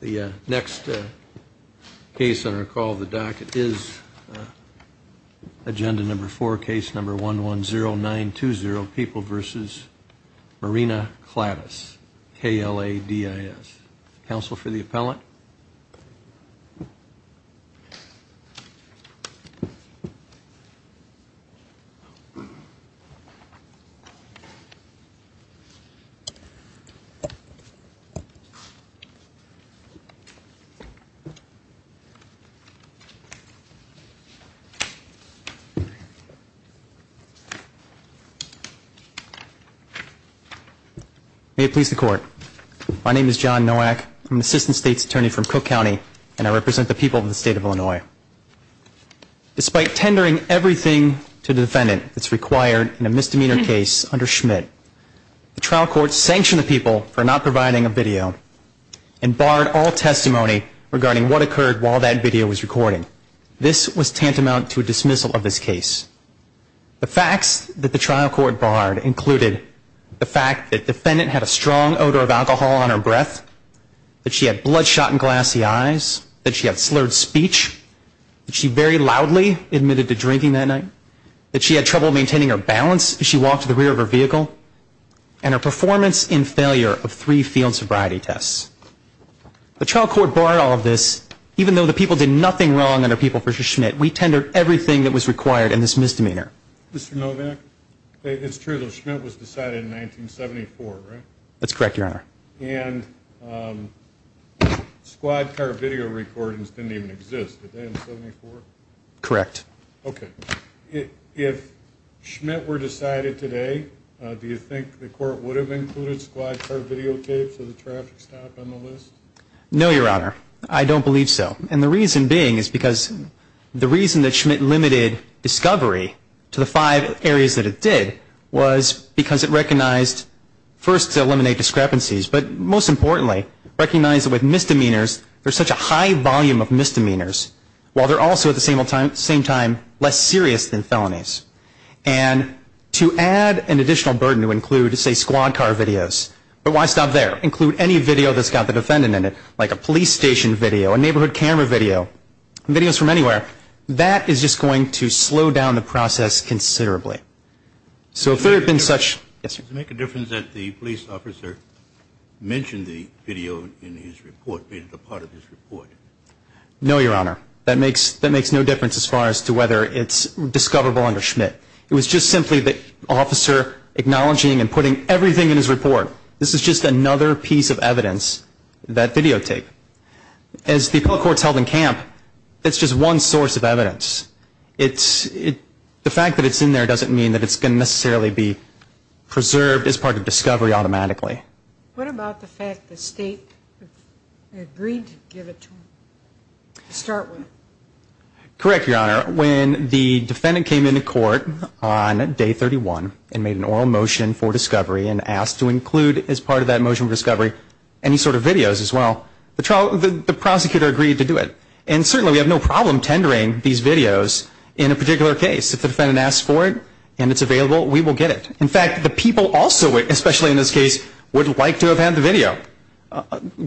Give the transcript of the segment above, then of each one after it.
The next case on our call the docket is agenda number four case number one one zero nine two zero people versus Marina Kladis. K-L-A-D-I-S. Counsel for the appellant. May it please the court. My name is John Nowak. I'm an assistant state's attorney from Cook County and I represent the people of the state of Illinois. Despite tendering everything to the defendant that's required in a misdemeanor case under Schmidt, the trial court sanctioned the people for not providing a video and barred all testimony regarding what occurred while that video was recorded. This was tantamount to a dismissal of this case. The facts that the trial court barred included the fact that the defendant had a strong odor of alcohol on her breath, that she had bloodshot and glassy eyes, that she had slurred speech, that she very loudly admitted to drinking that night, that she had trouble maintaining her balance as she walked to the rear of her vehicle, and her performance in failure of three field sobriety tests. The trial court barred all of this even though the people did nothing wrong under people versus Schmidt. We tendered everything that was required in this misdemeanor. Mr. Nowak, it's true that Schmidt was decided in 1974, right? That's correct, your honor. And squad car video recordings didn't even exist. Did they in 74? Correct. Okay. If Schmidt were decided today, do you think the court would have included squad car videotapes of the traffic stop on the list? No, your honor. I don't believe so. And the reason being is because the reason that Schmidt limited discovery to the five areas that it did was because it recognized, first to eliminate discrepancies, but most importantly recognized that with misdemeanors, there's such a high volume of misdemeanors while they're also at the same time, less serious than felonies. And to add an additional burden to include, say, squad car videos, but why stop there? Include any video that's got the defendant in it, like a police station video, a neighborhood camera video, videos from anywhere. That is just going to slow down the process considerably. So if there had been such... Yes, sir. Does it make a difference that the police officer mentioned the video in his report, made it a part of his report? No, your honor. That makes no difference as far as to whether it's discoverable under Schmidt. It was just simply the officer acknowledging and putting everything in his report. This is just another piece of evidence that videotape. As the appellate court's held in camp, it's just one source of evidence. The fact that it's in there doesn't mean that it's going to necessarily be preserved as part of discovery automatically. What about the fact the state agreed to give it to him to start with? Correct, your honor. When the defendant came into court on day 31 and made an oral motion for discovery and asked to include as part of that motion for discovery any sort of videos as well, the prosecutor agreed to do it. And certainly we have no problem tendering these videos in a particular case. If the defendant asks for it and it's available, the people also, especially in this case, would like to have had the video.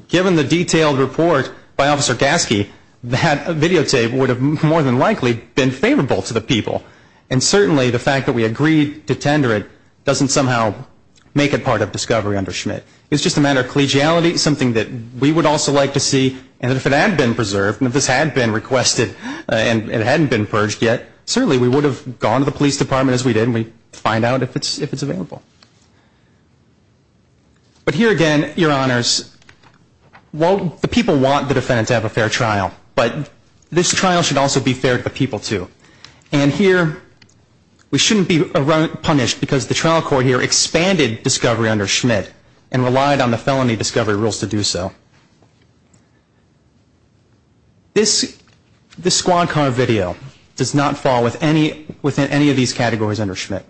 Given the detailed report by Officer Gasky, that videotape would have more than likely been favorable to the people. And certainly the fact that we agreed to tender it doesn't somehow make it part of discovery under Schmidt. It's just a matter of collegiality, something that we would also like to see. And if it had been preserved, and if this had been requested and it hadn't been purged yet, certainly we would have gone to the police department as we did and we'd find out if it's available. But here again, your honors, while the people want the defendant to have a fair trial, but this trial should also be fair to the people too. And here we shouldn't be punished because the trial court here expanded discovery under Schmidt and relied on the felony discovery rules to do so. This squad car video does not fall within any of these categories under Schmidt.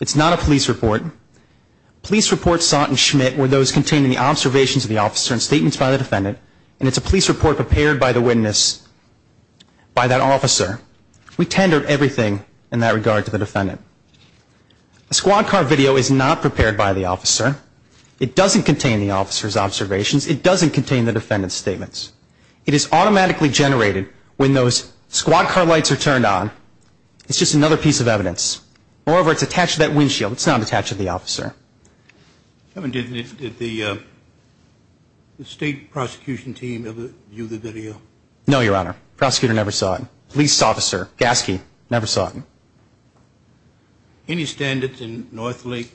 It's not a police report. Police reports sought in Schmidt were those containing the observations of the officer and statements by the defendant. And it's a police report prepared by the witness, by that officer. We tendered everything in that regard to the defendant. A squad car video is not prepared by the officer. It doesn't contain the officer's observations. It doesn't contain the defendant's observations. It is automatically generated when those squad car lights are turned on. It's just another piece of evidence. Moreover, it's attached to that windshield. It's not attached to the officer. Did the state prosecution team ever view the video? No, your honor. Prosecutor never saw it. Police officer, Gaske, never saw it. Any standards in Northlake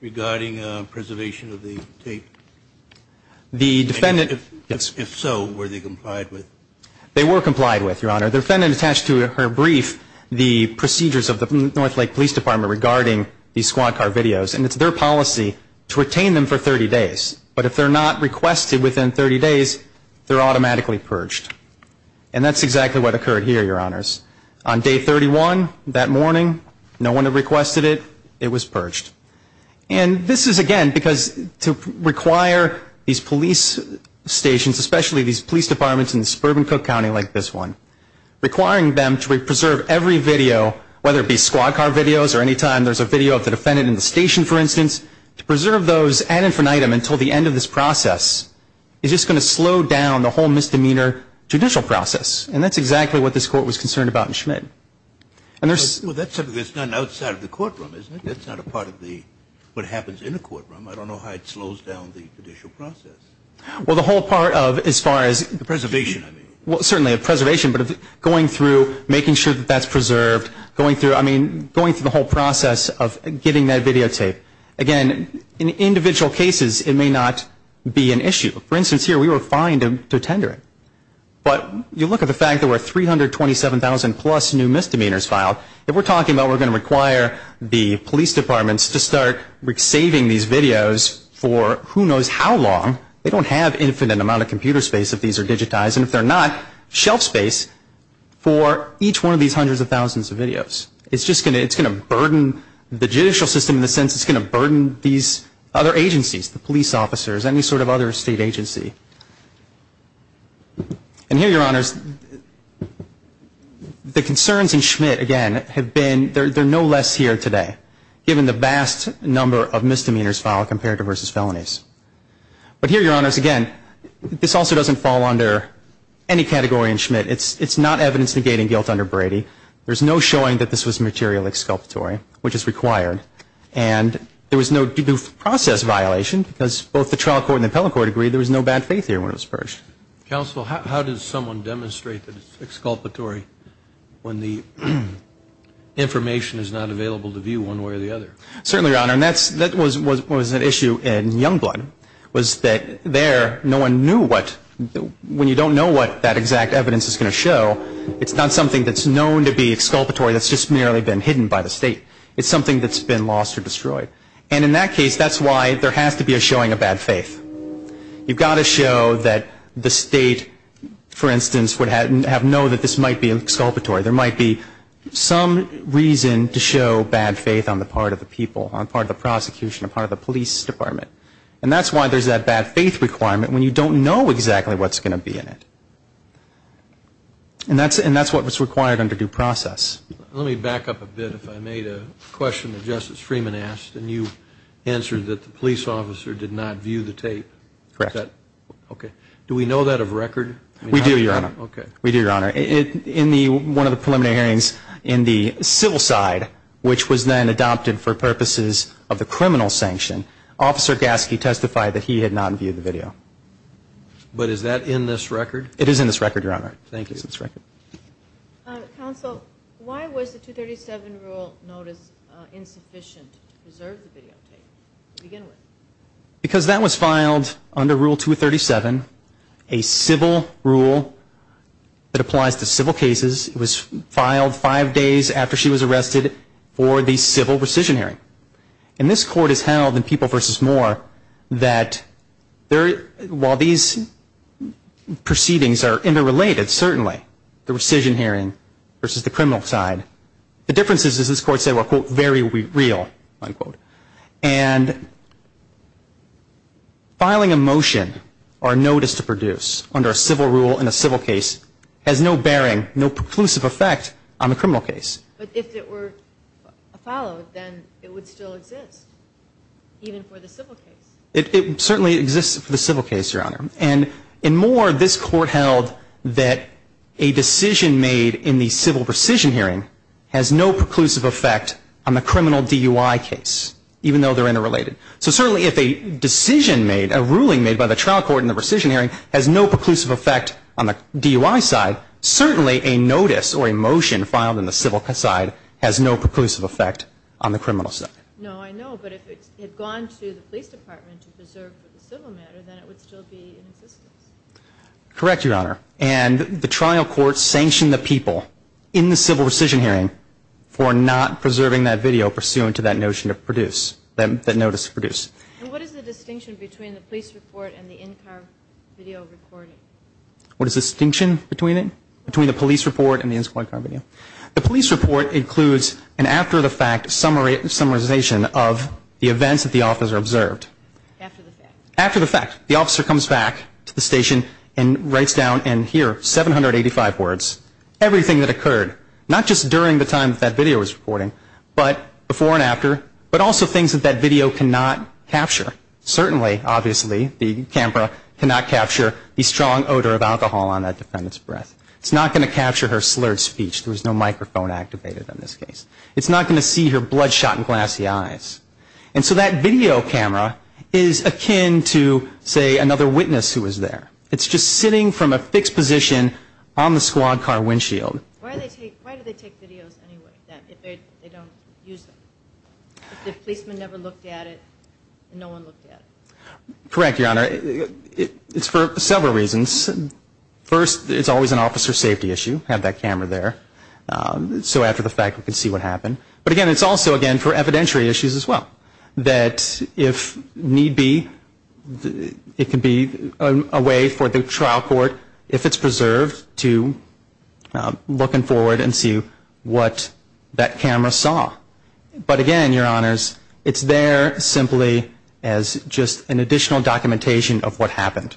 regarding preservation of the tape? If so, were they complied with? They were complied with, your honor. The defendant attached to her brief the procedures of the Northlake Police Department regarding these squad car videos. And it's their policy to retain them for 30 days. But if they're not requested within 30 days, they're automatically purged. And that's exactly what occurred here, your honors. On day 31 that morning, no one had requested it. It was purged. And this is, again, because to require these police stations, especially these police departments in the suburban Cook County like this one, requiring them to preserve every video, whether it be squad car videos or any time there's a video of the defendant in the station, for instance, to preserve those ad infinitum until the end of this process is just going to slow down the whole misdemeanor judicial process. And that's exactly what this court was concerned about in Schmidt. Well, that's something that's done outside of the courtroom, isn't it? That's not a part of what happens in a courtroom. I don't know how it slows down the judicial process. Well, the whole part of as far as preservation, certainly preservation, but going through making sure that that's preserved, going through the whole process of getting that videotape. Again, in individual cases, it may not be an issue. For instance, here we were fined to If we're talking about we're going to require the police departments to start saving these videos for who knows how long. They don't have infinite amount of computer space if these are digitized. And if they're not, shelf space for each one of these hundreds of thousands of videos. It's just going to burden the judicial system in the sense it's going to burden these other agencies, the police officers, any sort of other state agency. And here, Your Honors, the concerns in Schmidt, again, have been there are no less here today, given the vast number of misdemeanors filed compared to versus felonies. But here, Your Honors, again, this also doesn't fall under any category in Schmidt. It's not evidence negating guilt under Brady. There's no showing that this was material exculpatory, which is required. And there was no due process violation because both the trial court and the appellate court agreed there was no bad faith here when it was purged. Counsel, how does someone demonstrate that it's exculpatory when the information is not available to view one way or the other? Certainly, Your Honor, and that was an issue in Youngblood was that there no one knew what when you don't know what that exact evidence is going to show, it's not something that's known to be exculpatory that's just merely been hidden by the state. It's something that's been lost or destroyed. And in that case, that's why there has to be a showing of bad faith. You've got to show that the state, for instance, would have known that this might be exculpatory. There might be some reason to show bad faith on the part of the people, on the part of the prosecution, on the part of the police department. And that's why there's that bad faith requirement when you don't know exactly what's going to be in it. And that's what was required under due process. Let me back up a bit, if I may, to a question that Justice Freeman asked, and you answered that the police officer did not view the tape. Correct. Okay. Do we know that of record? We do, Your Honor. Okay. We do, Your Honor. In one of the preliminary hearings in the civil side, which was then adopted for purposes of the criminal sanction, Officer Gaske testified that he had not viewed the video. But is that in this record? It is in this record, Your Honor. Thank you. It's in this record. Counsel, why was the 237 rule notice insufficient to preserve the videotape to begin with? Because that was filed under Rule 237, a civil rule that applies to civil cases. It was filed five days after she was arrested for the civil rescission hearing. And this court has held in People v. Moore that while these proceedings are interrelated, certainly, the rescission hearing versus the criminal side, the differences, as this court said, were, quote, very real, unquote. And filing a motion or a notice to produce under a civil rule in a civil case has no bearing, no preclusive effect on the criminal case. But if it were followed, then it would still exist, even for the civil case. It certainly exists for the civil case, Your Honor. And in Moore, this court held that a decision made in the civil rescission hearing has no preclusive effect on the criminal DUI case, even though they're interrelated. So certainly, if a decision made, a ruling made by the trial court in the rescission hearing has no preclusive effect on the DUI side, certainly a notice or a motion filed in the civil side has no preclusive effect on the criminal side. No, I know. But if it had gone to the police department to preserve for the civil matter, then it would still be in existence. Correct, Your Honor. And the trial court sanctioned the people in the civil rescission hearing for not preserving that video pursuant to that notion of produce, that notice to produce. And what is the distinction between the police report and the in-car video recording? What is the distinction between it, between the police report and the in-car video? The police report includes an after-the-fact summarization of the events that the officer observed. After the fact. After the fact. The officer comes back to the station and writes down in here 785 words, everything that occurred, not just during the time that that video was recording, but before and after, but also things that that video cannot capture. Certainly, obviously, the camera cannot capture the strong odor of alcohol on that defendant's breath. It's not going to capture her slurred speech. There was no microphone activated on this case. It's not going to see her bloodshot and glassy eyes. And so that video camera is akin to, say, another witness who was there. It's just sitting from a fixed position on the squad car windshield. Why do they take videos anyway if they don't use them? If the policeman never looked at it and no one looked at it? Correct, Your Honor. It's for several reasons. First, it's always an officer safety issue to have that camera there. So after the fact, we can see what happened. But, again, it's also, again, for evidentiary issues as well. That if need be, it could be a way for the trial court, if it's preserved, to look in forward and see what that camera saw. But, again, Your Honors, it's there simply as just an additional documentation of what happened.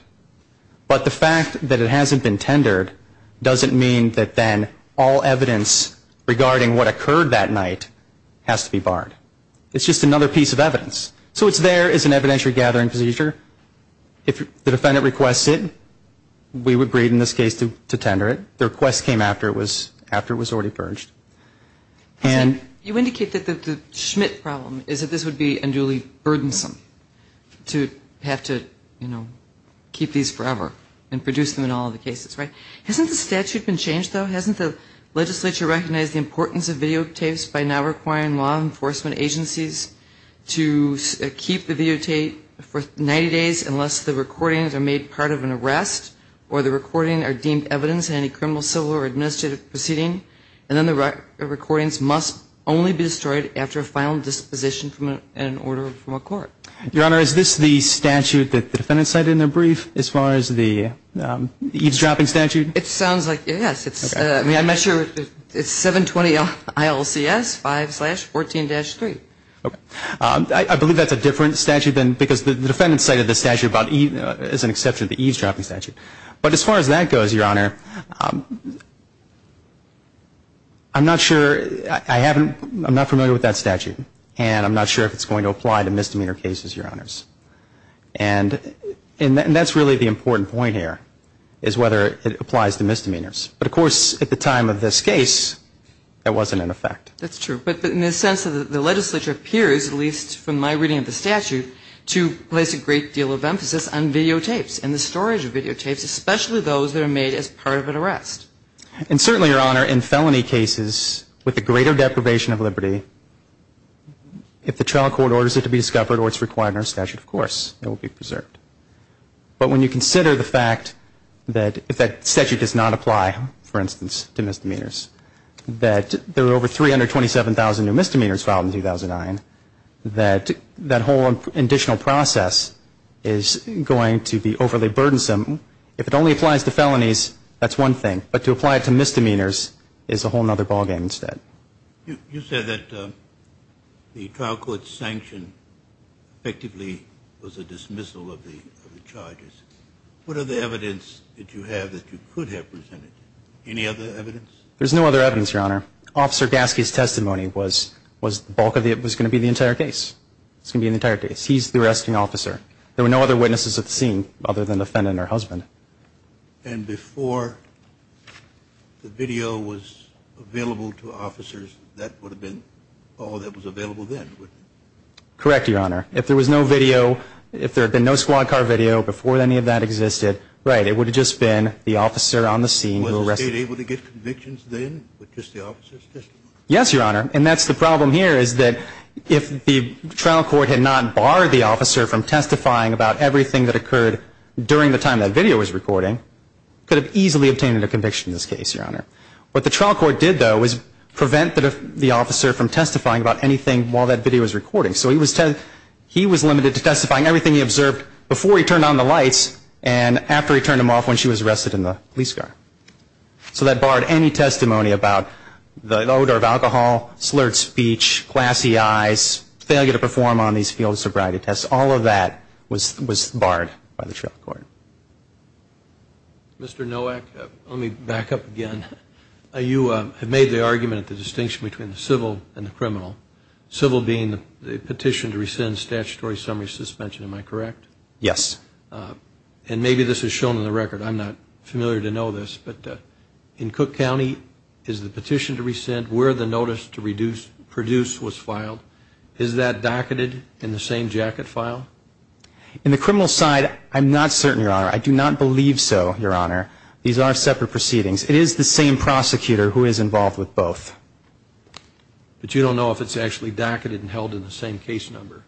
But the fact that it hasn't been tendered doesn't mean that then all evidence regarding what occurred that night has to be barred. It's just another piece of evidence. So it's there as an evidentiary gathering procedure. If the defendant requests it, we would agree in this case to tender it. The request came after it was already purged. You indicate that the Schmidt problem is that this would be unduly burdensome to have to, you know, keep these forever and produce them in all the cases, right? Hasn't the statute been changed, though? Hasn't the legislature recognized the importance of videotapes by now requiring law enforcement agencies to keep the videotape for 90 days unless the recordings are made part of an arrest or the recordings are deemed evidence in any criminal, civil, or administrative proceeding? And then the recordings must only be destroyed after a final disposition and an order from a court. Your Honor, is this the statute that the defendant cited in the brief as far as the eavesdropping statute? It sounds like it, yes. I mean, I'm not sure. It's 720 ILCS 5-14-3. Okay. I believe that's a different statute because the defendant cited the statute as an exception to the eavesdropping statute. But as far as that goes, Your Honor, I'm not sure. I'm not familiar with that statute, and I'm not sure if it's going to apply to misdemeanor cases, Your Honors. And that's really the important point here is whether it applies to misdemeanors. But, of course, at the time of this case, that wasn't in effect. That's true. But in the sense that the legislature appears, at least from my reading of the statute, to place a great deal of emphasis on videotapes and the storage of And certainly, Your Honor, in felony cases with the greater deprivation of liberty, if the trial court orders it to be discovered or it's required in our statute, of course, it will be preserved. But when you consider the fact that if that statute does not apply, for instance, to misdemeanors, that there were over 327,000 new misdemeanors filed in 2009, that that whole additional process is going to be overly burdensome. If it only applies to felonies, that's one thing. But to apply it to misdemeanors is a whole other ballgame instead. You said that the trial court's sanction effectively was a dismissal of the charges. What other evidence did you have that you could have presented? Any other evidence? There's no other evidence, Your Honor. Officer Gaske's testimony was the bulk of the entire case. It was going to be the entire case. He's the arresting officer. There were no other witnesses at the scene other than the defendant or husband. And before the video was available to officers, that would have been all that was available then? Correct, Your Honor. If there was no video, if there had been no squad car video before any of that existed, right, it would have just been the officer on the scene who arrested him. Was the State able to get convictions then with just the officer's testimony? Yes, Your Honor. And that's the problem here is that if the trial court had not barred the testifying about everything that occurred during the time that video was recording, it could have easily obtained a conviction in this case, Your Honor. What the trial court did, though, was prevent the officer from testifying about anything while that video was recording. So he was limited to testifying everything he observed before he turned on the lights and after he turned them off when she was arrested in the police car. So that barred any testimony about the odor of alcohol, slurred speech, glassy eyes, failure to perform on these field sobriety tests. All of that was barred by the trial court. Mr. Nowak, let me back up again. You have made the argument at the distinction between the civil and the criminal, civil being the petition to rescind statutory summary suspension, am I correct? Yes. And maybe this is shown in the record. I'm not familiar to know this, but in Cook County is the petition to rescind where the notice to reduce, produce was filed, is that docketed in the same jacket file? In the criminal side, I'm not certain, Your Honor. I do not believe so, Your Honor. These are separate proceedings. It is the same prosecutor who is involved with both. But you don't know if it's actually docketed and held in the same case number.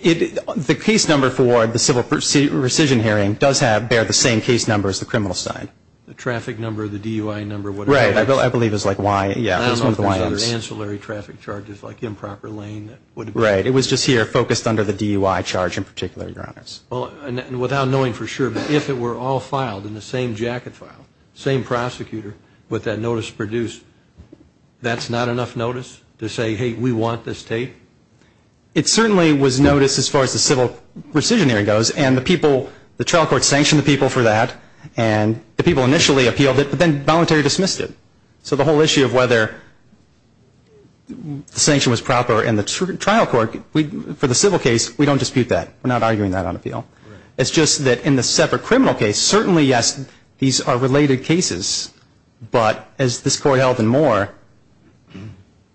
It, the case number for the civil rescission hearing does have, bear the same case number as the criminal side. The traffic number, the DUI number, whatever it is. I believe it's like Y, yeah, it's one of the YMs. I don't know if there's other ancillary traffic charges like improper lane. Right. It was just here focused under the DUI charge in particular, Your Honors. Without knowing for sure, but if it were all filed in the same jacket file, same prosecutor with that notice produced, that's not enough notice to say, hey, we want this tape? It certainly was noticed as far as the civil rescission hearing goes, and the people, the trial court sanctioned the people for that, and the people initially appealed it, but then voluntarily dismissed it. So the whole issue of whether the sanction was proper in the trial court, for the civil case, we don't dispute that. We're not arguing that on appeal. It's just that in the separate criminal case, certainly, yes, these are related cases, but as this court held and more,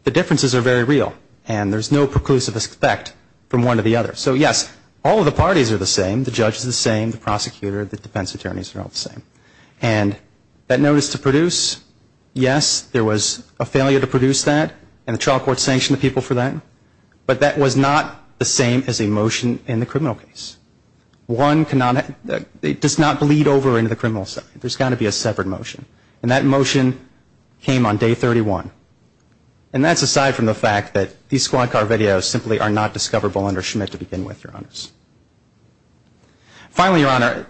the differences are very real, and there's no preclusive aspect from one to the other. So, yes, all of the parties are the same. The judge is the same, the prosecutor, the defense attorneys are all the same, and that notice to produce, yes, there was a failure to produce that, and the trial court sanctioned the people for that, but that was not the same as a motion in the criminal case. One does not bleed over into the criminal side. There's got to be a separate motion, and that motion came on Day 31, and that's aside from the fact that these squad car videos simply are not discoverable under Schmidt to begin with, Your Honors. Finally, Your Honor,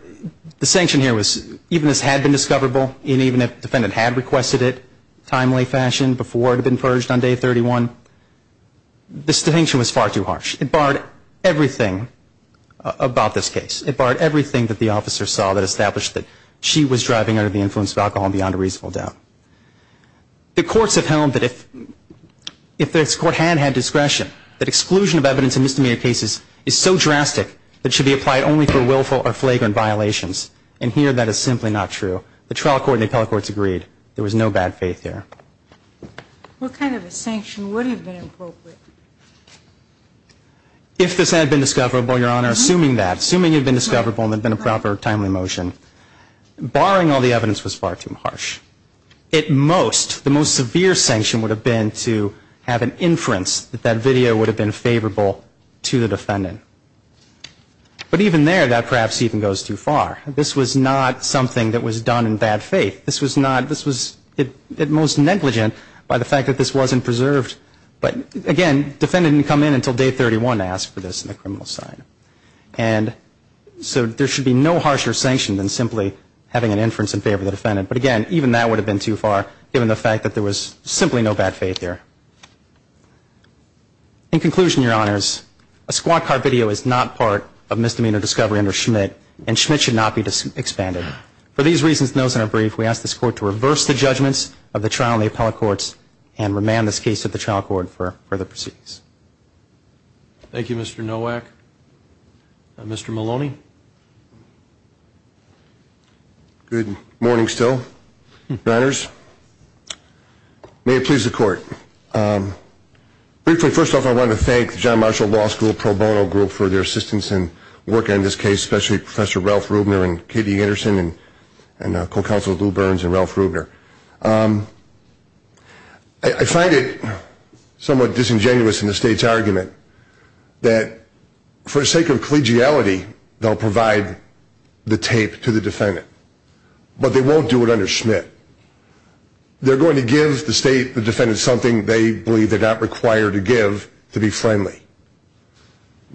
the sanction here was, even if this had been discoverable, and even if the defendant had requested it in a timely fashion before it had been purged on Day 31, the sanction was far too harsh. It barred everything about this case. It barred everything that the officer saw that established that she was driving under the influence of alcohol and beyond a reasonable doubt. The courts have held that if this court had had discretion, that exclusion of evidence in misdemeanor cases is so drastic that it should be applied only for willful or flagrant violations, and here that is simply not true. The trial court and the appellate courts agreed. There was no bad faith here. What kind of a sanction would have been appropriate? If this had been discoverable, Your Honor, assuming that, assuming it had been discoverable and there had been a proper timely motion, barring all the evidence was far too harsh. At most, the most severe sanction would have been to have an inference that that video would have been favorable to the defendant. But even there, that perhaps even goes too far. This was not something that was done in bad faith. This was not, this was at most negligent by the fact that this wasn't preserved. But again, the defendant didn't come in until Day 31 to ask for this in the criminal side. And so there should be no harsher sanction than simply having an inference in favor of the defendant. But again, even that would have been too far, given the fact that there was simply no bad faith here. In conclusion, Your Honors, a squad car video is not part of misdemeanor discovery under Schmidt, and Schmidt should not be expanded. For these reasons, and those in our brief, we ask this Court to reverse the judgments of the trial and the appellate courts and remand this case to the trial court for further proceedings. Thank you, Mr. Nowak. Mr. Maloney. Good morning still, Your Honors. May it please the Court. Briefly, first off, I want to thank the John Marshall Law School Pro Bono Group for their assistance in working on this case, especially Professor Ralph Rubner and Katie Anderson and Co-Counsel Lou Burns and Ralph Rubner. I find it somewhat disingenuous in the State's argument that for the sake of collegiality, they'll provide the tape to the defendant, but they won't do it under Schmidt. They're going to give the State, the defendant, something they believe they're not required to give to be friendly.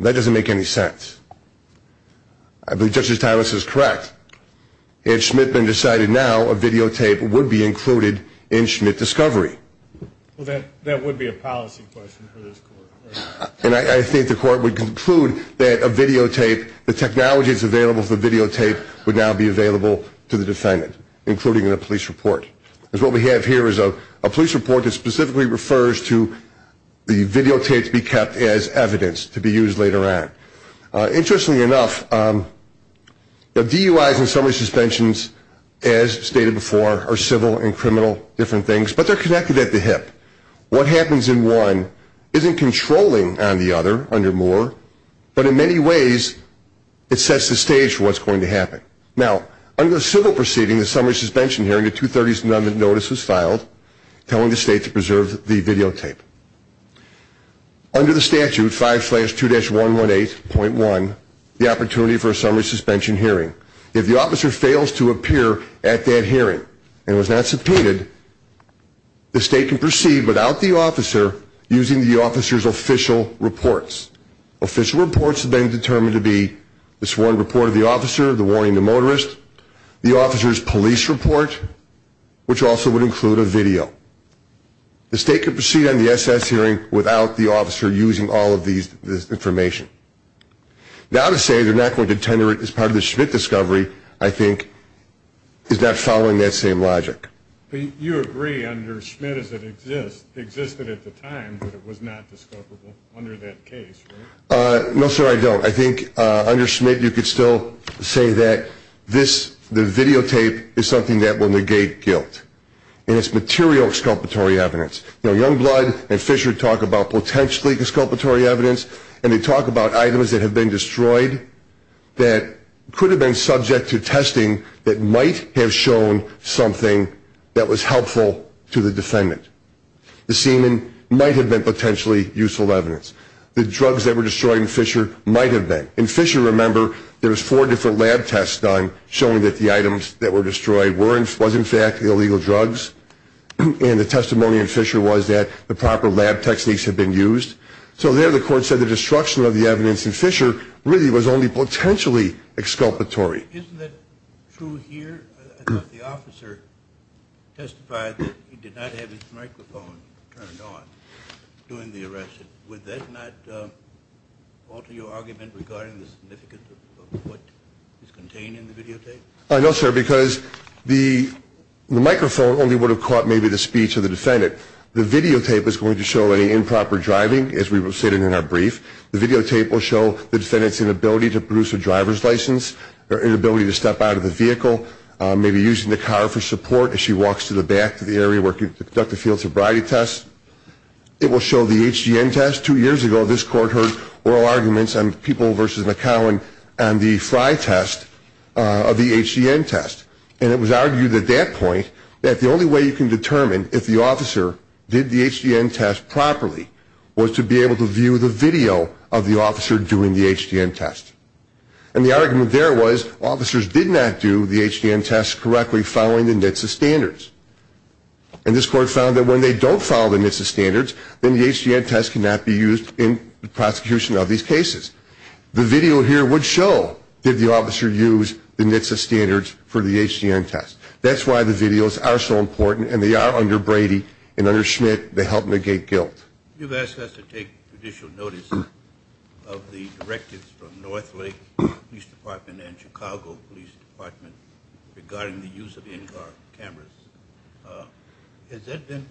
That doesn't make any sense. I believe Justice Thomas is correct. Had Schmidt been decided now, a videotape would be included in Schmidt discovery. Well, that would be a policy question for this Court. And I think the Court would conclude that a videotape, the technology that's available for the videotape, would now be available to the defendant, including in a police report. Because what we have here is a police report that specifically refers to the videotape to be kept as evidence to be used later on. Interestingly enough, DUIs and summary suspensions, as stated before, are civil and criminal different things, but they're connected at the hip. What happens in one isn't controlling on the other under Moore, but in many ways it sets the stage for what's going to happen. Now, under the civil proceeding, the summary suspension hearing, a 230s notice was filed telling the State to preserve the videotape. Under the statute, 5-2-118.1, the opportunity for a summary suspension hearing. If the officer fails to appear at that hearing and was not subpoenaed, the State can proceed without the officer using the officer's official reports. Official reports have been determined to be the sworn report of the officer, the warning to motorists, the officer's police report, which also would include a video. The State can proceed on the SS hearing without the officer using all of this information. Now to say they're not going to tender it as part of the Schmidt discovery, I think, is not following that same logic. But you agree under Schmidt as it existed at the time that it was not discoverable under that case, right? No, sir, I don't. I think under Schmidt you could still say that the videotape is something that will negate guilt, and it's material exculpatory evidence. You know, Youngblood and Fisher talk about potentially exculpatory evidence, and they talk about items that have been destroyed that could have been subject to testing that might have shown something that was helpful to the defendant. The semen might have been potentially useful evidence. The drugs that were destroyed in Fisher might have been. In Fisher, remember, there was four different lab tests done showing that the items that were destroyed was in fact illegal drugs, and the testimony in Fisher was that the proper lab techniques had been used. So there the court said the destruction of the evidence in Fisher really was only potentially exculpatory. Isn't that true here? I thought the officer testified that he did not have his microphone turned on during the arrest. Would that not alter your argument regarding the significance of what is contained in the videotape? No, sir, because the microphone only would have caught maybe the speech of the defendant. The videotape is going to show any improper driving, as we've stated in our brief. The videotape will show the defendant's inability to produce a driver's license or inability to step out of the vehicle, maybe using the car for support as she walks to the back of the area where she conducted the field sobriety test. It will show the HGN test. Two years ago this court heard oral arguments on People v. McCowan on the Fry test of the HGN test, and it was argued at that point that the only way you can determine if the officer did the HGN test properly was to be able to view the video of the officer doing the HGN test. And the argument there was officers did not do the HGN test correctly following the NHTSA standards. And this court found that when they don't follow the NHTSA standards, then the HGN test cannot be used in the prosecution of these cases. The video here would show did the officer use the NHTSA standards for the HGN test. That's why the videos are so important, and they are under Brady and under Schmidt to help negate guilt. You've asked us to take judicial notice of the directives from Northlake Police Department and Chicago Police Department regarding the use of NGAR cameras. Has that been,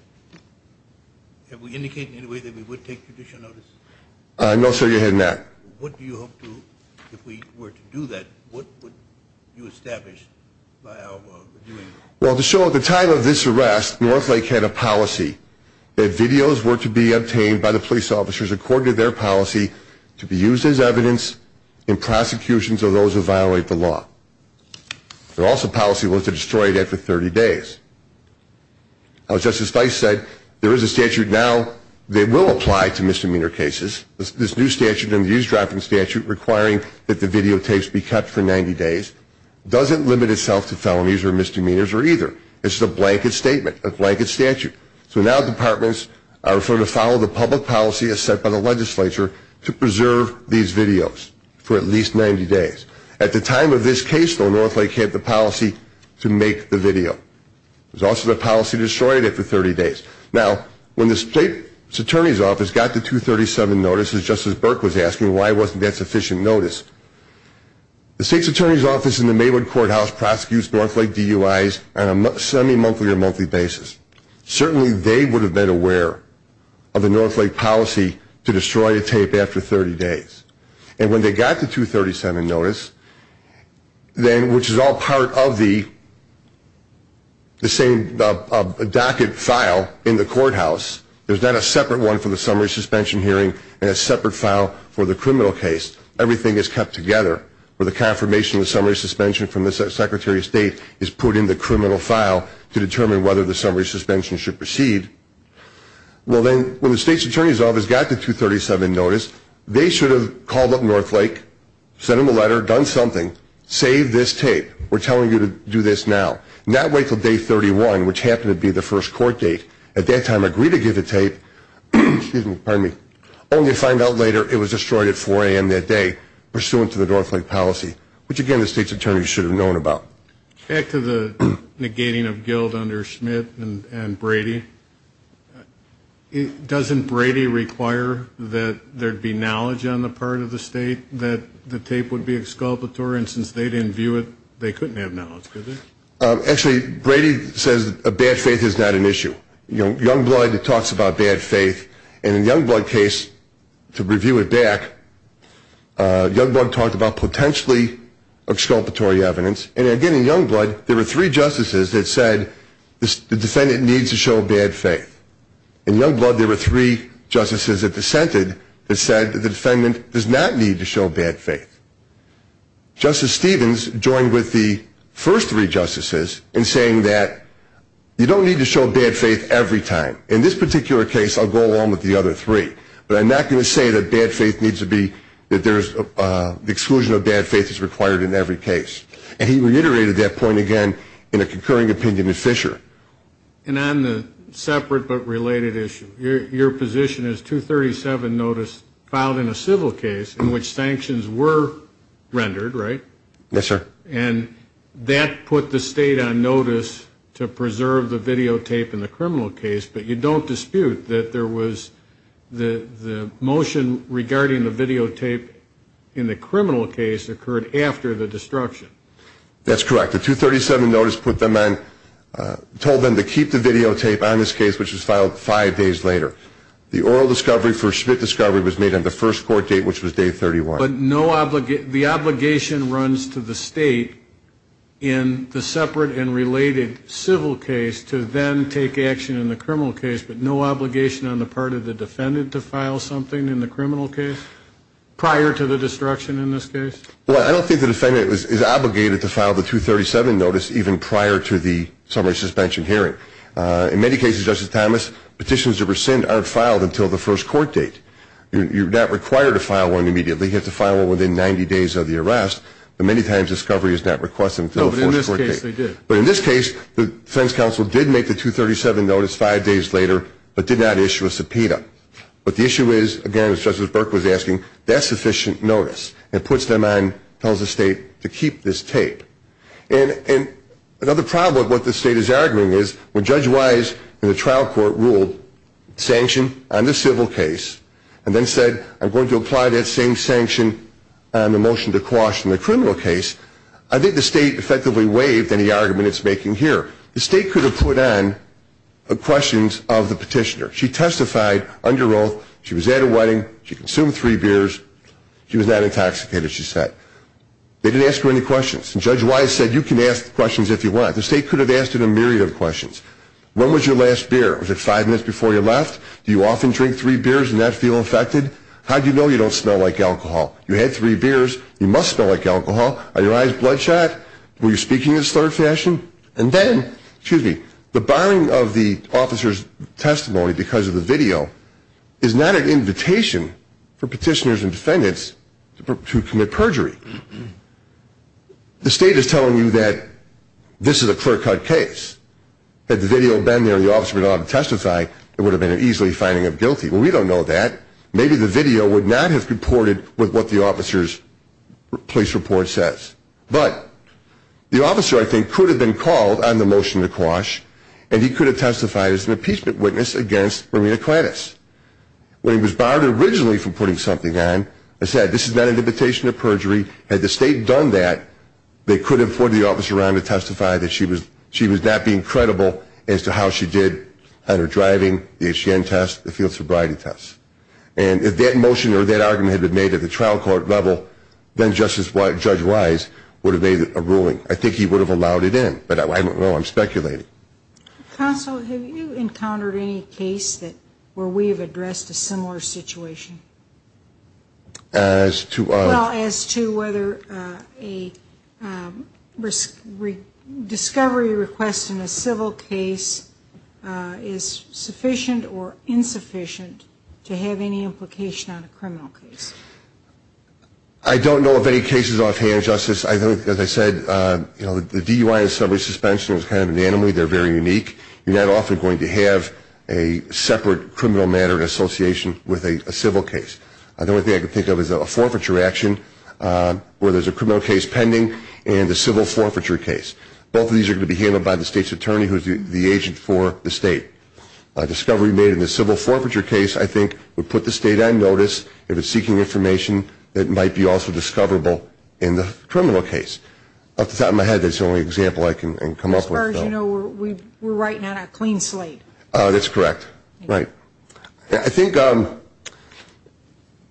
have we indicated in any way that we would take judicial notice? No, sir, you haven't yet. What do you hope to, if we were to do that, what would you establish by our reviewing? Well, to show at the time of this arrest, Northlake had a policy that videos were to be obtained by the police officers according to their policy to be used as evidence in prosecutions of those who violate the law. Their also policy was to destroy it after 30 days. As Justice Feist said, there is a statute now that will apply to misdemeanor cases. This new statute and the eavesdropping statute requiring that the videotapes be kept for 90 days doesn't limit itself to felonies or misdemeanors or either. It's a blanket statement, a blanket statute. So now departments are to follow the public policy as set by the legislature to preserve these videos for at least 90 days. At the time of this case, though, Northlake had the policy to make the video. There's also the policy to destroy it after 30 days. Now, when the State's Attorney's Office got the 237 notice, as Justice Burke was asking, why wasn't that sufficient notice? The State's Attorney's Office in the Maywood Courthouse prosecutes Northlake DUIs on a semi-monthly or monthly basis. Certainly they would have been aware of the Northlake policy to destroy a tape after 30 days. And when they got the 237 notice, which is all part of the same docket file in the courthouse, there's not a separate one for the summary suspension hearing and a separate file for the criminal case. Everything is kept together. The confirmation of the summary suspension from the Secretary of State is put in the criminal file to determine whether the summary suspension should proceed. Well, then, when the State's Attorney's Office got the 237 notice, they should have called up Northlake, sent them a letter, done something, save this tape. We're telling you to do this now. Not wait until day 31, which happened to be the first court date. At that time, agree to give the tape, only to find out later it was destroyed at 4 a.m. that day, pursuant to the Northlake policy, which, again, the State's Attorney should have known about. Back to the negating of guilt under Schmidt and Brady, doesn't Brady require that there be knowledge on the part of the State that the tape would be exculpatory? And since they didn't view it, they couldn't have knowledge, could they? Actually, Brady says bad faith is not an issue. Youngblood talks about bad faith. And in Youngblood's case, to review it back, Youngblood talked about potentially exculpatory evidence. And again, in Youngblood, there were three justices that said the defendant needs to show bad faith. In Youngblood, there were three justices that dissented that said the defendant does not need to show bad faith. Justice Stevens joined with the first three justices in saying that you don't need to show bad faith every time. In this particular case, I'll go along with the other three, but I'm not going to say that bad faith needs to be, that there's exclusion of bad faith is required in every case. And he reiterated that point again in a concurring opinion with Fisher. And on the separate but related issue, your position is 237 notice filed in a civil case in which sanctions were rendered, right? Yes, sir. And that put the State on notice to preserve the videotape in the criminal case, but you don't dispute that there was the motion regarding the videotape in the criminal case occurred after the destruction. That's correct. The 237 notice put them on, told them to keep the videotape on this case, which was filed five days later. The oral discovery for Schmidt discovery was made on the first court date, which was day 31. The obligation runs to the State in the separate and related civil case to then take action in the criminal case, but no obligation on the part of the defendant to file something in the criminal case prior to the destruction in this case? Well, I don't think the defendant is obligated to file the 237 notice even prior to the summary suspension hearing. In many cases, Justice Thomas, petitions to rescind aren't filed until the first court date. You're not required to file one immediately. You have to file one within 90 days of the arrest, but many times discovery is not requested until the first court date. No, but in this case, they did. But in this case, the defense counsel did make the 237 notice five days later, but did not issue a subpoena. But the issue is, again, as Justice Burke was asking, that's sufficient notice. It puts them on, tells the State to keep this tape. And another problem with what the State is arguing is when Judge Wise in the trial court ruled sanction on the civil case and then said, I'm going to apply that same sanction on the motion to caution the criminal case, I think the State effectively waived any argument it's making here. The State could have put on questions of the petitioner. She testified under oath. She was at a wedding. She consumed three beers. She was not intoxicated, she said. They didn't ask her any questions. And Judge Wise said, you can ask questions if you want. The State could have asked her a myriad of questions. When was your last beer? Was it five minutes before you left? Do you often drink three beers and not feel infected? How do you know you don't smell like alcohol? You had three beers. You must smell like alcohol. Are your eyes bloodshot? Were you speaking in a slurred fashion? And then, excuse me, the barring of the officer's testimony because of the video is not an invitation for petitioners and defendants to commit perjury. The State is telling you that this is a clear-cut case. Had the video been there and the officer had been allowed to testify, it would have been an easily finding of guilty. Well, we don't know that. Maybe the video would not have comported with what the officer's police report says. But the officer, I think, could have been called on the motion to quash, and he could have testified as an impeachment witness against Romina Kladys. When he was barred originally from putting something on, I said this is not an invitation to perjury. Had the State done that, they could have put the officer around to testify that she was not being credible as to how she did on her driving, the HGN test, the field sobriety test. And if that motion or that argument had been made at the trial court level, then Judge Wise would have made a ruling. I think he would have allowed it in, but I don't know. I'm speculating. Counsel, have you encountered any case where we have addressed a similar situation? As to what? Well, as to whether a discovery request in a civil case is sufficient or insufficient to have any implication on a criminal case. I don't know of any cases offhand, Justice. As I said, the DUI and subway suspension is kind of an enemy. They're very unique. You're not often going to have a separate criminal matter in association with a civil case. The only thing I can think of is a forfeiture action where there's a criminal case pending and a civil forfeiture case. Both of these are going to be handled by the State's attorney, who is the agent for the State. A discovery made in the civil forfeiture case, I think, would put the State on notice if it's seeking information that might be also discoverable in the criminal case. Off the top of my head, that's the only example I can come up with. As far as you know, we're writing on a clean slate. That's correct. Right. I think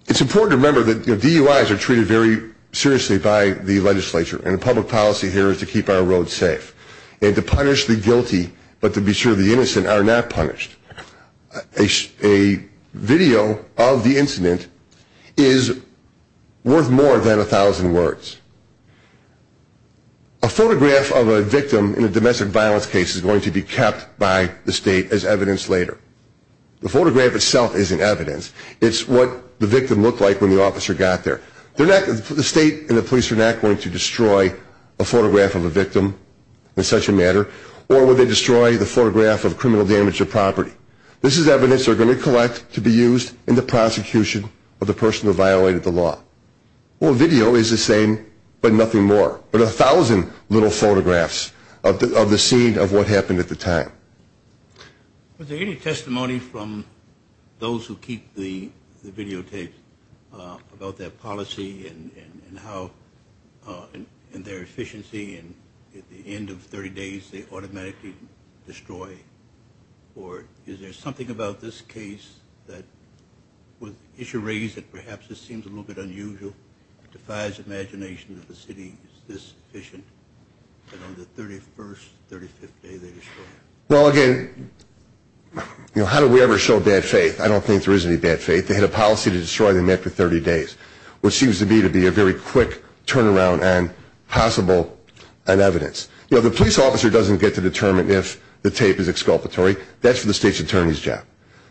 it's important to remember that DUIs are treated very seriously by the legislature, and the public policy here is to keep our roads safe and to punish the guilty, but to be sure the innocent are not punished. A video of the incident is worth more than a thousand words. A photograph of a victim in a domestic violence case is going to be kept by the State as evidence later. The photograph itself isn't evidence. It's what the victim looked like when the officer got there. The State and the police are not going to destroy a photograph of a victim in such a matter, or would they destroy the photograph of criminal damage to property. This is evidence they're going to collect to be used in the prosecution of the person who violated the law. Well, a video is the same, but nothing more, but a thousand little photographs of the scene of what happened at the time. Was there any testimony from those who keep the videotapes about their policy and how in their efficiency at the end of 30 days they automatically destroy, or is there something about this case that with issue raised that perhaps this seems a little bit unusual, defies imagination that the city is this efficient, and on the 31st, 35th day they destroy. Well, again, how do we ever show bad faith? I don't think there is any bad faith. They had a policy to destroy them after 30 days. What seems to me to be a very quick turnaround on possible evidence. You know, the police officer doesn't get to determine if the tape is exculpatory. That's for the state's attorney's job.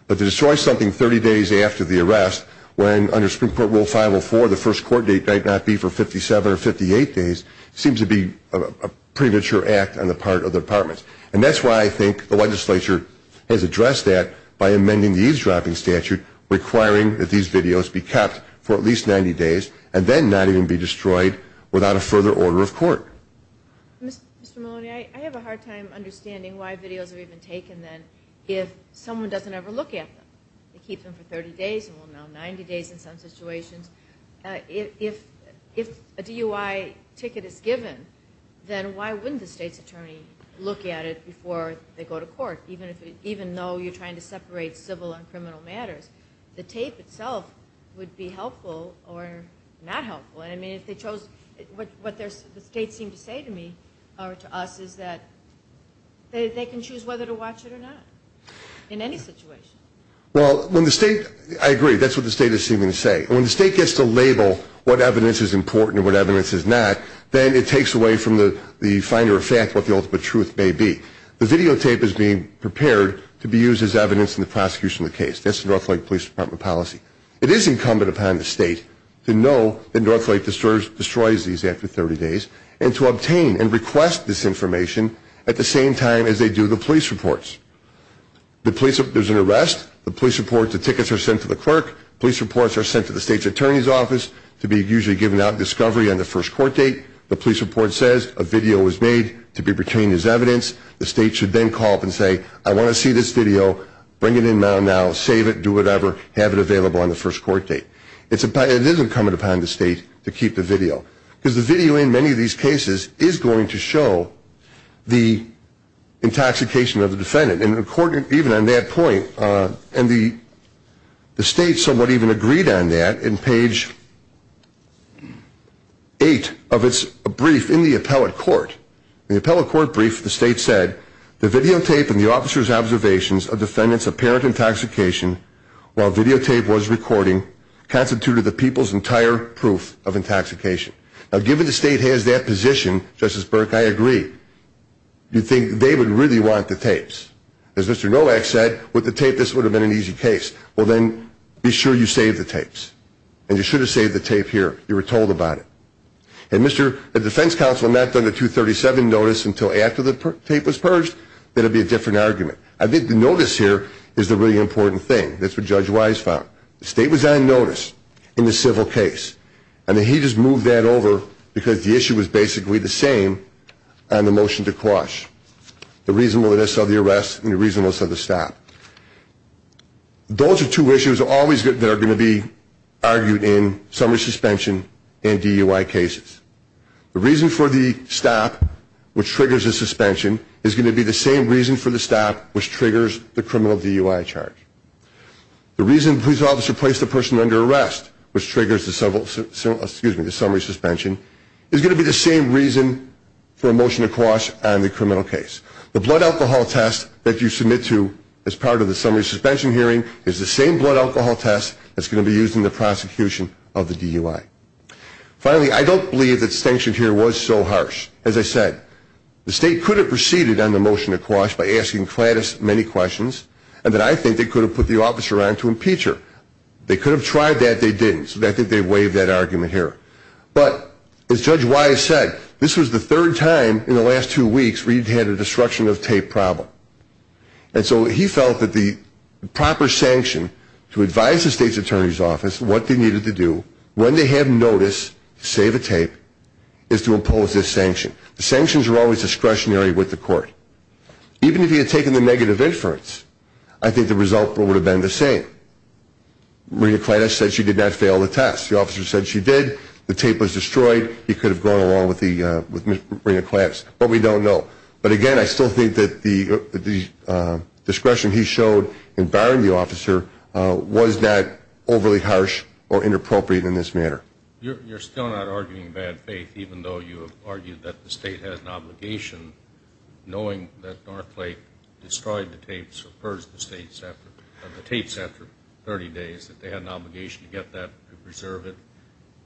But to destroy something 30 days after the arrest when under Supreme Court Rule 504 the first court date might not be for 57 or 58 days seems to be a premature act on the part of the department. And that's why I think the legislature has addressed that by amending the eavesdropping statute requiring that these videos be kept for at least 90 days and then not even be destroyed without a further order of court. Mr. Maloney, I have a hard time understanding why videos are even taken then if someone doesn't ever look at them. They keep them for 30 days and will now 90 days in some situations. If a DUI ticket is given, then why wouldn't the state's attorney look at it before they go to court? Even though you're trying to separate civil and criminal matters, the tape itself would be helpful or not helpful. I mean, if they chose what the state seemed to say to me or to us is that they can choose whether to watch it or not in any situation. Well, I agree. That's what the state is seeming to say. When the state gets to label what evidence is important and what evidence is not, then it takes away from the finder of fact what the ultimate truth may be. The videotape is being prepared to be used as evidence in the prosecution of the case. That's the North Lake Police Department policy. It is incumbent upon the state to know that North Lake destroys these after 30 days and to obtain and request this information at the same time as they do the police reports. There's an arrest. The police report, the tickets are sent to the clerk. Police reports are sent to the state's attorney's office to be usually given out in discovery on the first court date. The police report says a video was made to be retained as evidence. The state should then call up and say, I want to see this video, bring it in now, save it, do whatever, have it available on the first court date. It is incumbent upon the state to keep the video because the video in many of these cases is going to show the intoxication of the defendant. And even on that point, and the state somewhat even agreed on that in page 8 of its brief in the appellate court. In the appellate court brief, the state said, the videotape and the officer's observations of defendant's apparent intoxication while videotape was recording constituted the people's entire proof of intoxication. Now, given the state has that position, Justice Burke, I agree. You'd think they would really want the tapes. As Mr. Nolak said, with the tape, this would have been an easy case. Well, then, be sure you save the tapes. And you should have saved the tape here. You were told about it. And if the defense counsel had not done the 237 notice until after the tape was purged, then it would be a different argument. I think the notice here is the really important thing. That's what Judge Wise found. The state was on notice in the civil case, and then he just moved that over because the issue was basically the same on the motion to quash, the reasonableness of the arrest and the reasonableness of the stop. Those are two issues that are always going to be argued in summary suspension and DUI cases. The reason for the stop, which triggers the suspension, is going to be the same reason for the stop, which triggers the criminal DUI charge. The reason to place the person under arrest, which triggers the summary suspension, is going to be the same reason for a motion to quash on the criminal case. The blood alcohol test that you submit to as part of the summary suspension hearing is the same blood alcohol test that's going to be used in the prosecution of the DUI. Finally, I don't believe that the distinction here was so harsh. As I said, the state could have proceeded on the motion to quash by asking Clattis many questions, and then I think they could have put the officer on to impeach her. They could have tried that. They didn't, so I think they waived that argument here. But as Judge Wise said, this was the third time in the last two weeks where he'd had a destruction of tape problem. And so he felt that the proper sanction to advise the state's attorney's office what they needed to do when they have notice to save a tape is to impose this sanction. The sanctions are always discretionary with the court. Even if he had taken the negative inference, I think the result would have been the same. Maria Clattis said she did not fail the test. The officer said she did. The tape was destroyed. He could have gone along with Maria Clattis, but we don't know. But, again, I still think that the discretion he showed in barring the officer was not overly harsh or inappropriate in this matter. You're still not arguing bad faith, even though you have argued that the state has an obligation, knowing that Northlake destroyed the tapes or purged the tapes after 30 days, that they had an obligation to get that and preserve it.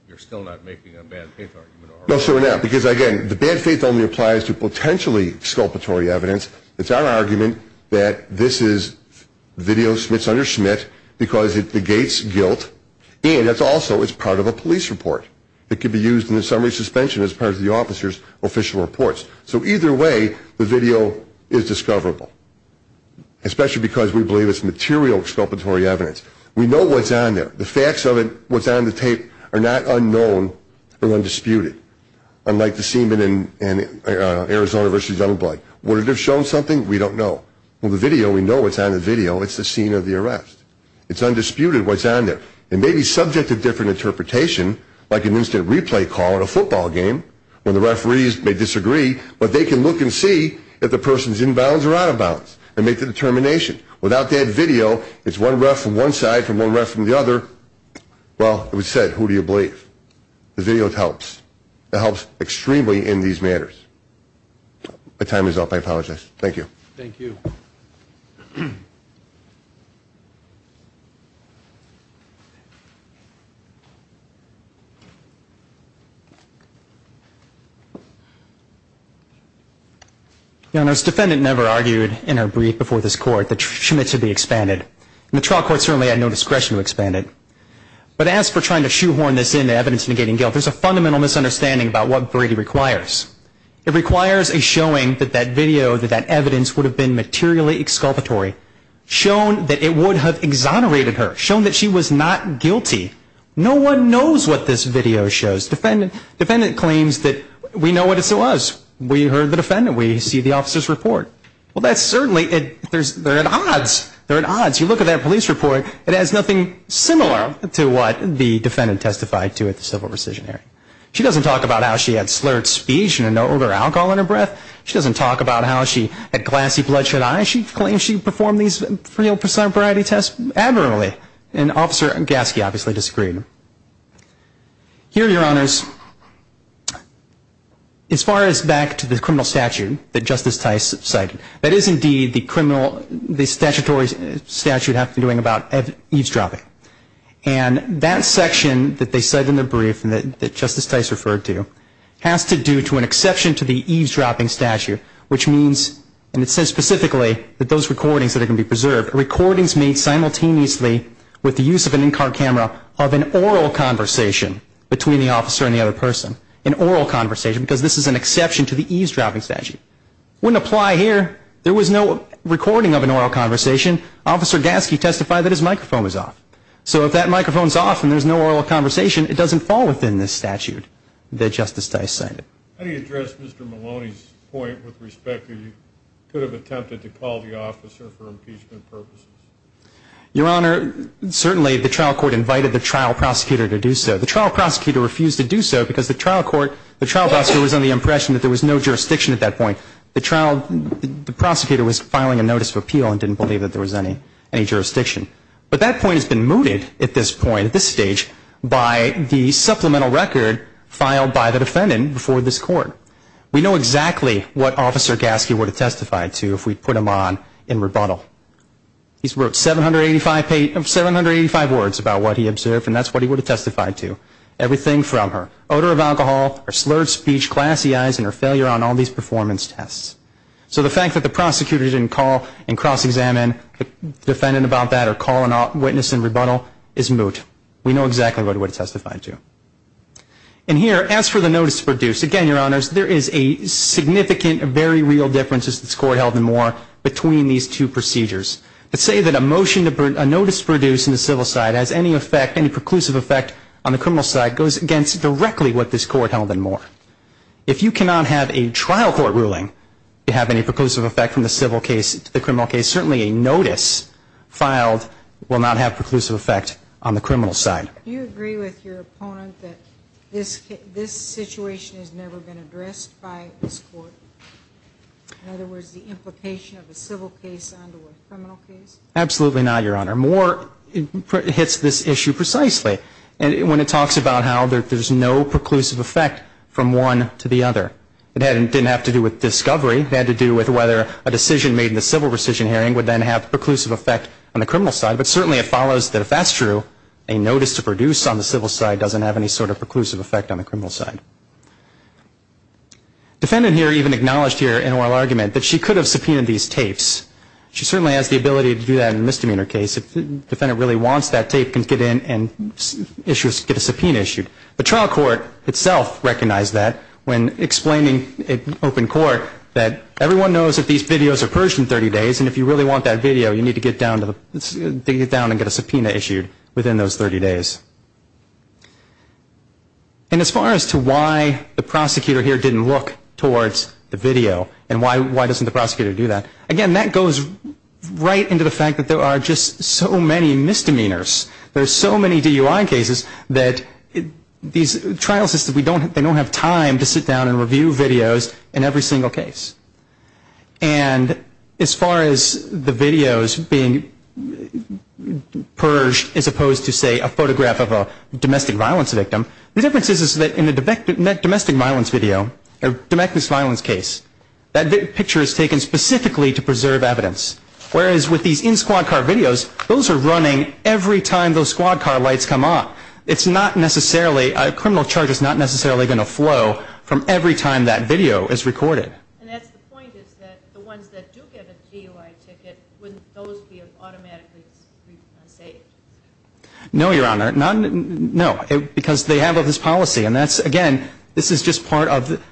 You're still not making a bad faith argument. No, sir, we're not, because, again, the bad faith only applies to potentially exculpatory evidence. It's our argument that this is video smiths under Schmidt because it negates guilt, and also it's part of a police report that could be used in the summary suspension as part of the officer's official reports. So either way, the video is discoverable, especially because we believe it's material exculpatory evidence. We know what's on there. The facts of it, what's on the tape, are not unknown or undisputed, unlike the semen in Arizona vs. Youngblood. Would it have shown something? We don't know. Well, the video, we know what's on the video. It's the scene of the arrest. It's undisputed what's on there. It may be subject to different interpretation, like an instant replay call in a football game when the referees may disagree, but they can look and see if the person's inbounds or out-of-bounds and make the determination. Without that video, it's one ref from one side and one ref from the other. Well, it was said, who do you believe? The video helps. It helps extremely in these matters. My time is up. I apologize. Thank you. Thank you. Thank you. Your Honor, this defendant never argued in her brief before this court that she meant to be expanded. And the trial court certainly had no discretion to expand it. But as for trying to shoehorn this into evidence negating guilt, there's a fundamental misunderstanding about what Brady requires. It requires a showing that that video, that that evidence would have been materially exculpatory, shown that it would have exonerated her, shown that she was not guilty. No one knows what this video shows. Defendant claims that we know what it was. We heard the defendant. We see the officer's report. Well, that's certainly, they're at odds. They're at odds. You look at that police report. It has nothing similar to what the defendant testified to at the civil rescission area. She doesn't talk about how she had slurred speech and an odor of alcohol in her breath. She doesn't talk about how she had glassy bloodshed eyes. She claims she performed these three or four percent of Brady tests admirably. And Officer Gaske obviously disagreed. Here, Your Honors, as far as back to the criminal statute that Justice Tice cited, that is indeed the criminal, the statutory statute have to be doing about eavesdropping. And that section that they cite in the brief and that Justice Tice referred to has to do to an exception to the eavesdropping statute, which means, and it says specifically that those recordings that are going to be preserved, recordings made simultaneously with the use of an in-car camera of an oral conversation between the officer and the other person, an oral conversation, because this is an exception to the eavesdropping statute. Wouldn't apply here. There was no recording of an oral conversation. Officer Gaske testified that his microphone was off. So if that microphone's off and there's no oral conversation, it doesn't fall within this statute that Justice Tice cited. How do you address Mr. Maloney's point with respect to you could have attempted to call the officer for impeachment purposes? Your Honor, certainly the trial court invited the trial prosecutor to do so. The trial prosecutor refused to do so because the trial court, the trial prosecutor was under the impression that there was no jurisdiction at that point. The trial, the prosecutor was filing a notice of appeal and didn't believe that there was any jurisdiction. But that point has been mooted at this point, at this stage, by the supplemental record filed by the defendant before this court. We know exactly what Officer Gaske would have testified to if we put him on in rebuttal. He's wrote 785 words about what he observed, and that's what he would have testified to. Everything from her odor of alcohol, her slurred speech, glassy eyes, and her failure on all these performance tests. So the fact that the prosecutor didn't call and cross-examine the defendant about that or call a witness in rebuttal is moot. We know exactly what he would have testified to. And here, as for the notice produced, again, Your Honors, there is a significant, very real difference, as this court held in Moore, between these two procedures. Let's say that a motion, a notice produced in the civil side has any effect, any preclusive effect, on the criminal side goes against directly what this court held in Moore. If you cannot have a trial court ruling to have any preclusive effect from the civil case to the criminal case, certainly a notice filed will not have preclusive effect on the criminal side. Do you agree with your opponent that this situation has never been addressed by this court? In other words, the implication of a civil case onto a criminal case? Absolutely not, Your Honor. Moore hits this issue precisely when it talks about how there's no preclusive effect from one to the other. It didn't have to do with discovery. It had to do with whether a decision made in the civil rescission hearing would then have preclusive effect on the criminal side. But certainly it follows that if that's true, a notice to produce on the civil side doesn't have any sort of preclusive effect on the criminal side. Defendant here even acknowledged here in oral argument that she could have subpoenaed these tapes. She certainly has the ability to do that in a misdemeanor case. If the defendant really wants that tape, can get in and get a subpoena issued. The trial court itself recognized that when explaining at open court that everyone knows that these videos are purged in 30 days, and if you really want that video, you need to get down and get a subpoena issued within those 30 days. And as far as to why the prosecutor here didn't look towards the video and why doesn't the prosecutor do that, again, that goes right into the fact that there are just so many misdemeanors. There are so many DUI cases that these trial systems, they don't have time to sit down and review videos in every single case. And as far as the videos being purged as opposed to, say, a photograph of a domestic violence victim, the difference is that in a domestic violence video, a domestic violence case, that picture is taken specifically to preserve evidence. Whereas with these in-squad car videos, those are running every time those squad car lights come on. It's not necessarily, a criminal charge is not necessarily going to flow from every time that video is recorded. And that's the point is that the ones that do get a DUI ticket, wouldn't those be automatically saved? No, Your Honor. No, because they have all this policy. And that's, again, this is just part of,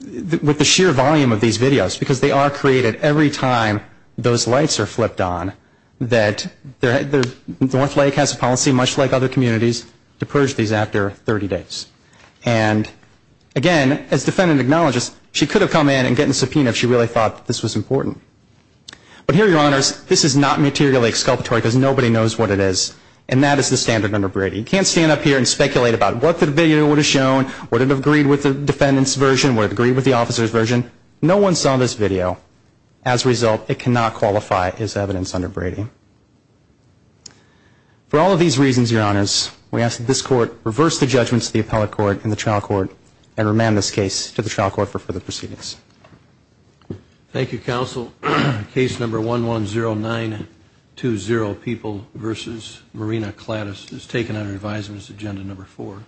with the sheer volume of these videos, because they are created every time those lights are flipped on, that Northlake has a policy, much like other communities, to purge these after 30 days. And, again, as defendant acknowledges, she could have come in and gotten a subpoena if she really thought this was important. But here, Your Honors, this is not materially exculpatory because nobody knows what it is. And that is the standard under Brady. You can't stand up here and speculate about what the video would have shown, would it have agreed with the defendant's version, would it have agreed with the officer's version. No one saw this video. As a result, it cannot qualify as evidence under Brady. For all of these reasons, Your Honors, we ask that this Court reverse the judgments of the appellate court and the trial court and remand this case to the trial court for further proceedings. Thank you, Counsel. Case number 110920, People v. Marina Clattis, is taken under advisement as agenda number four.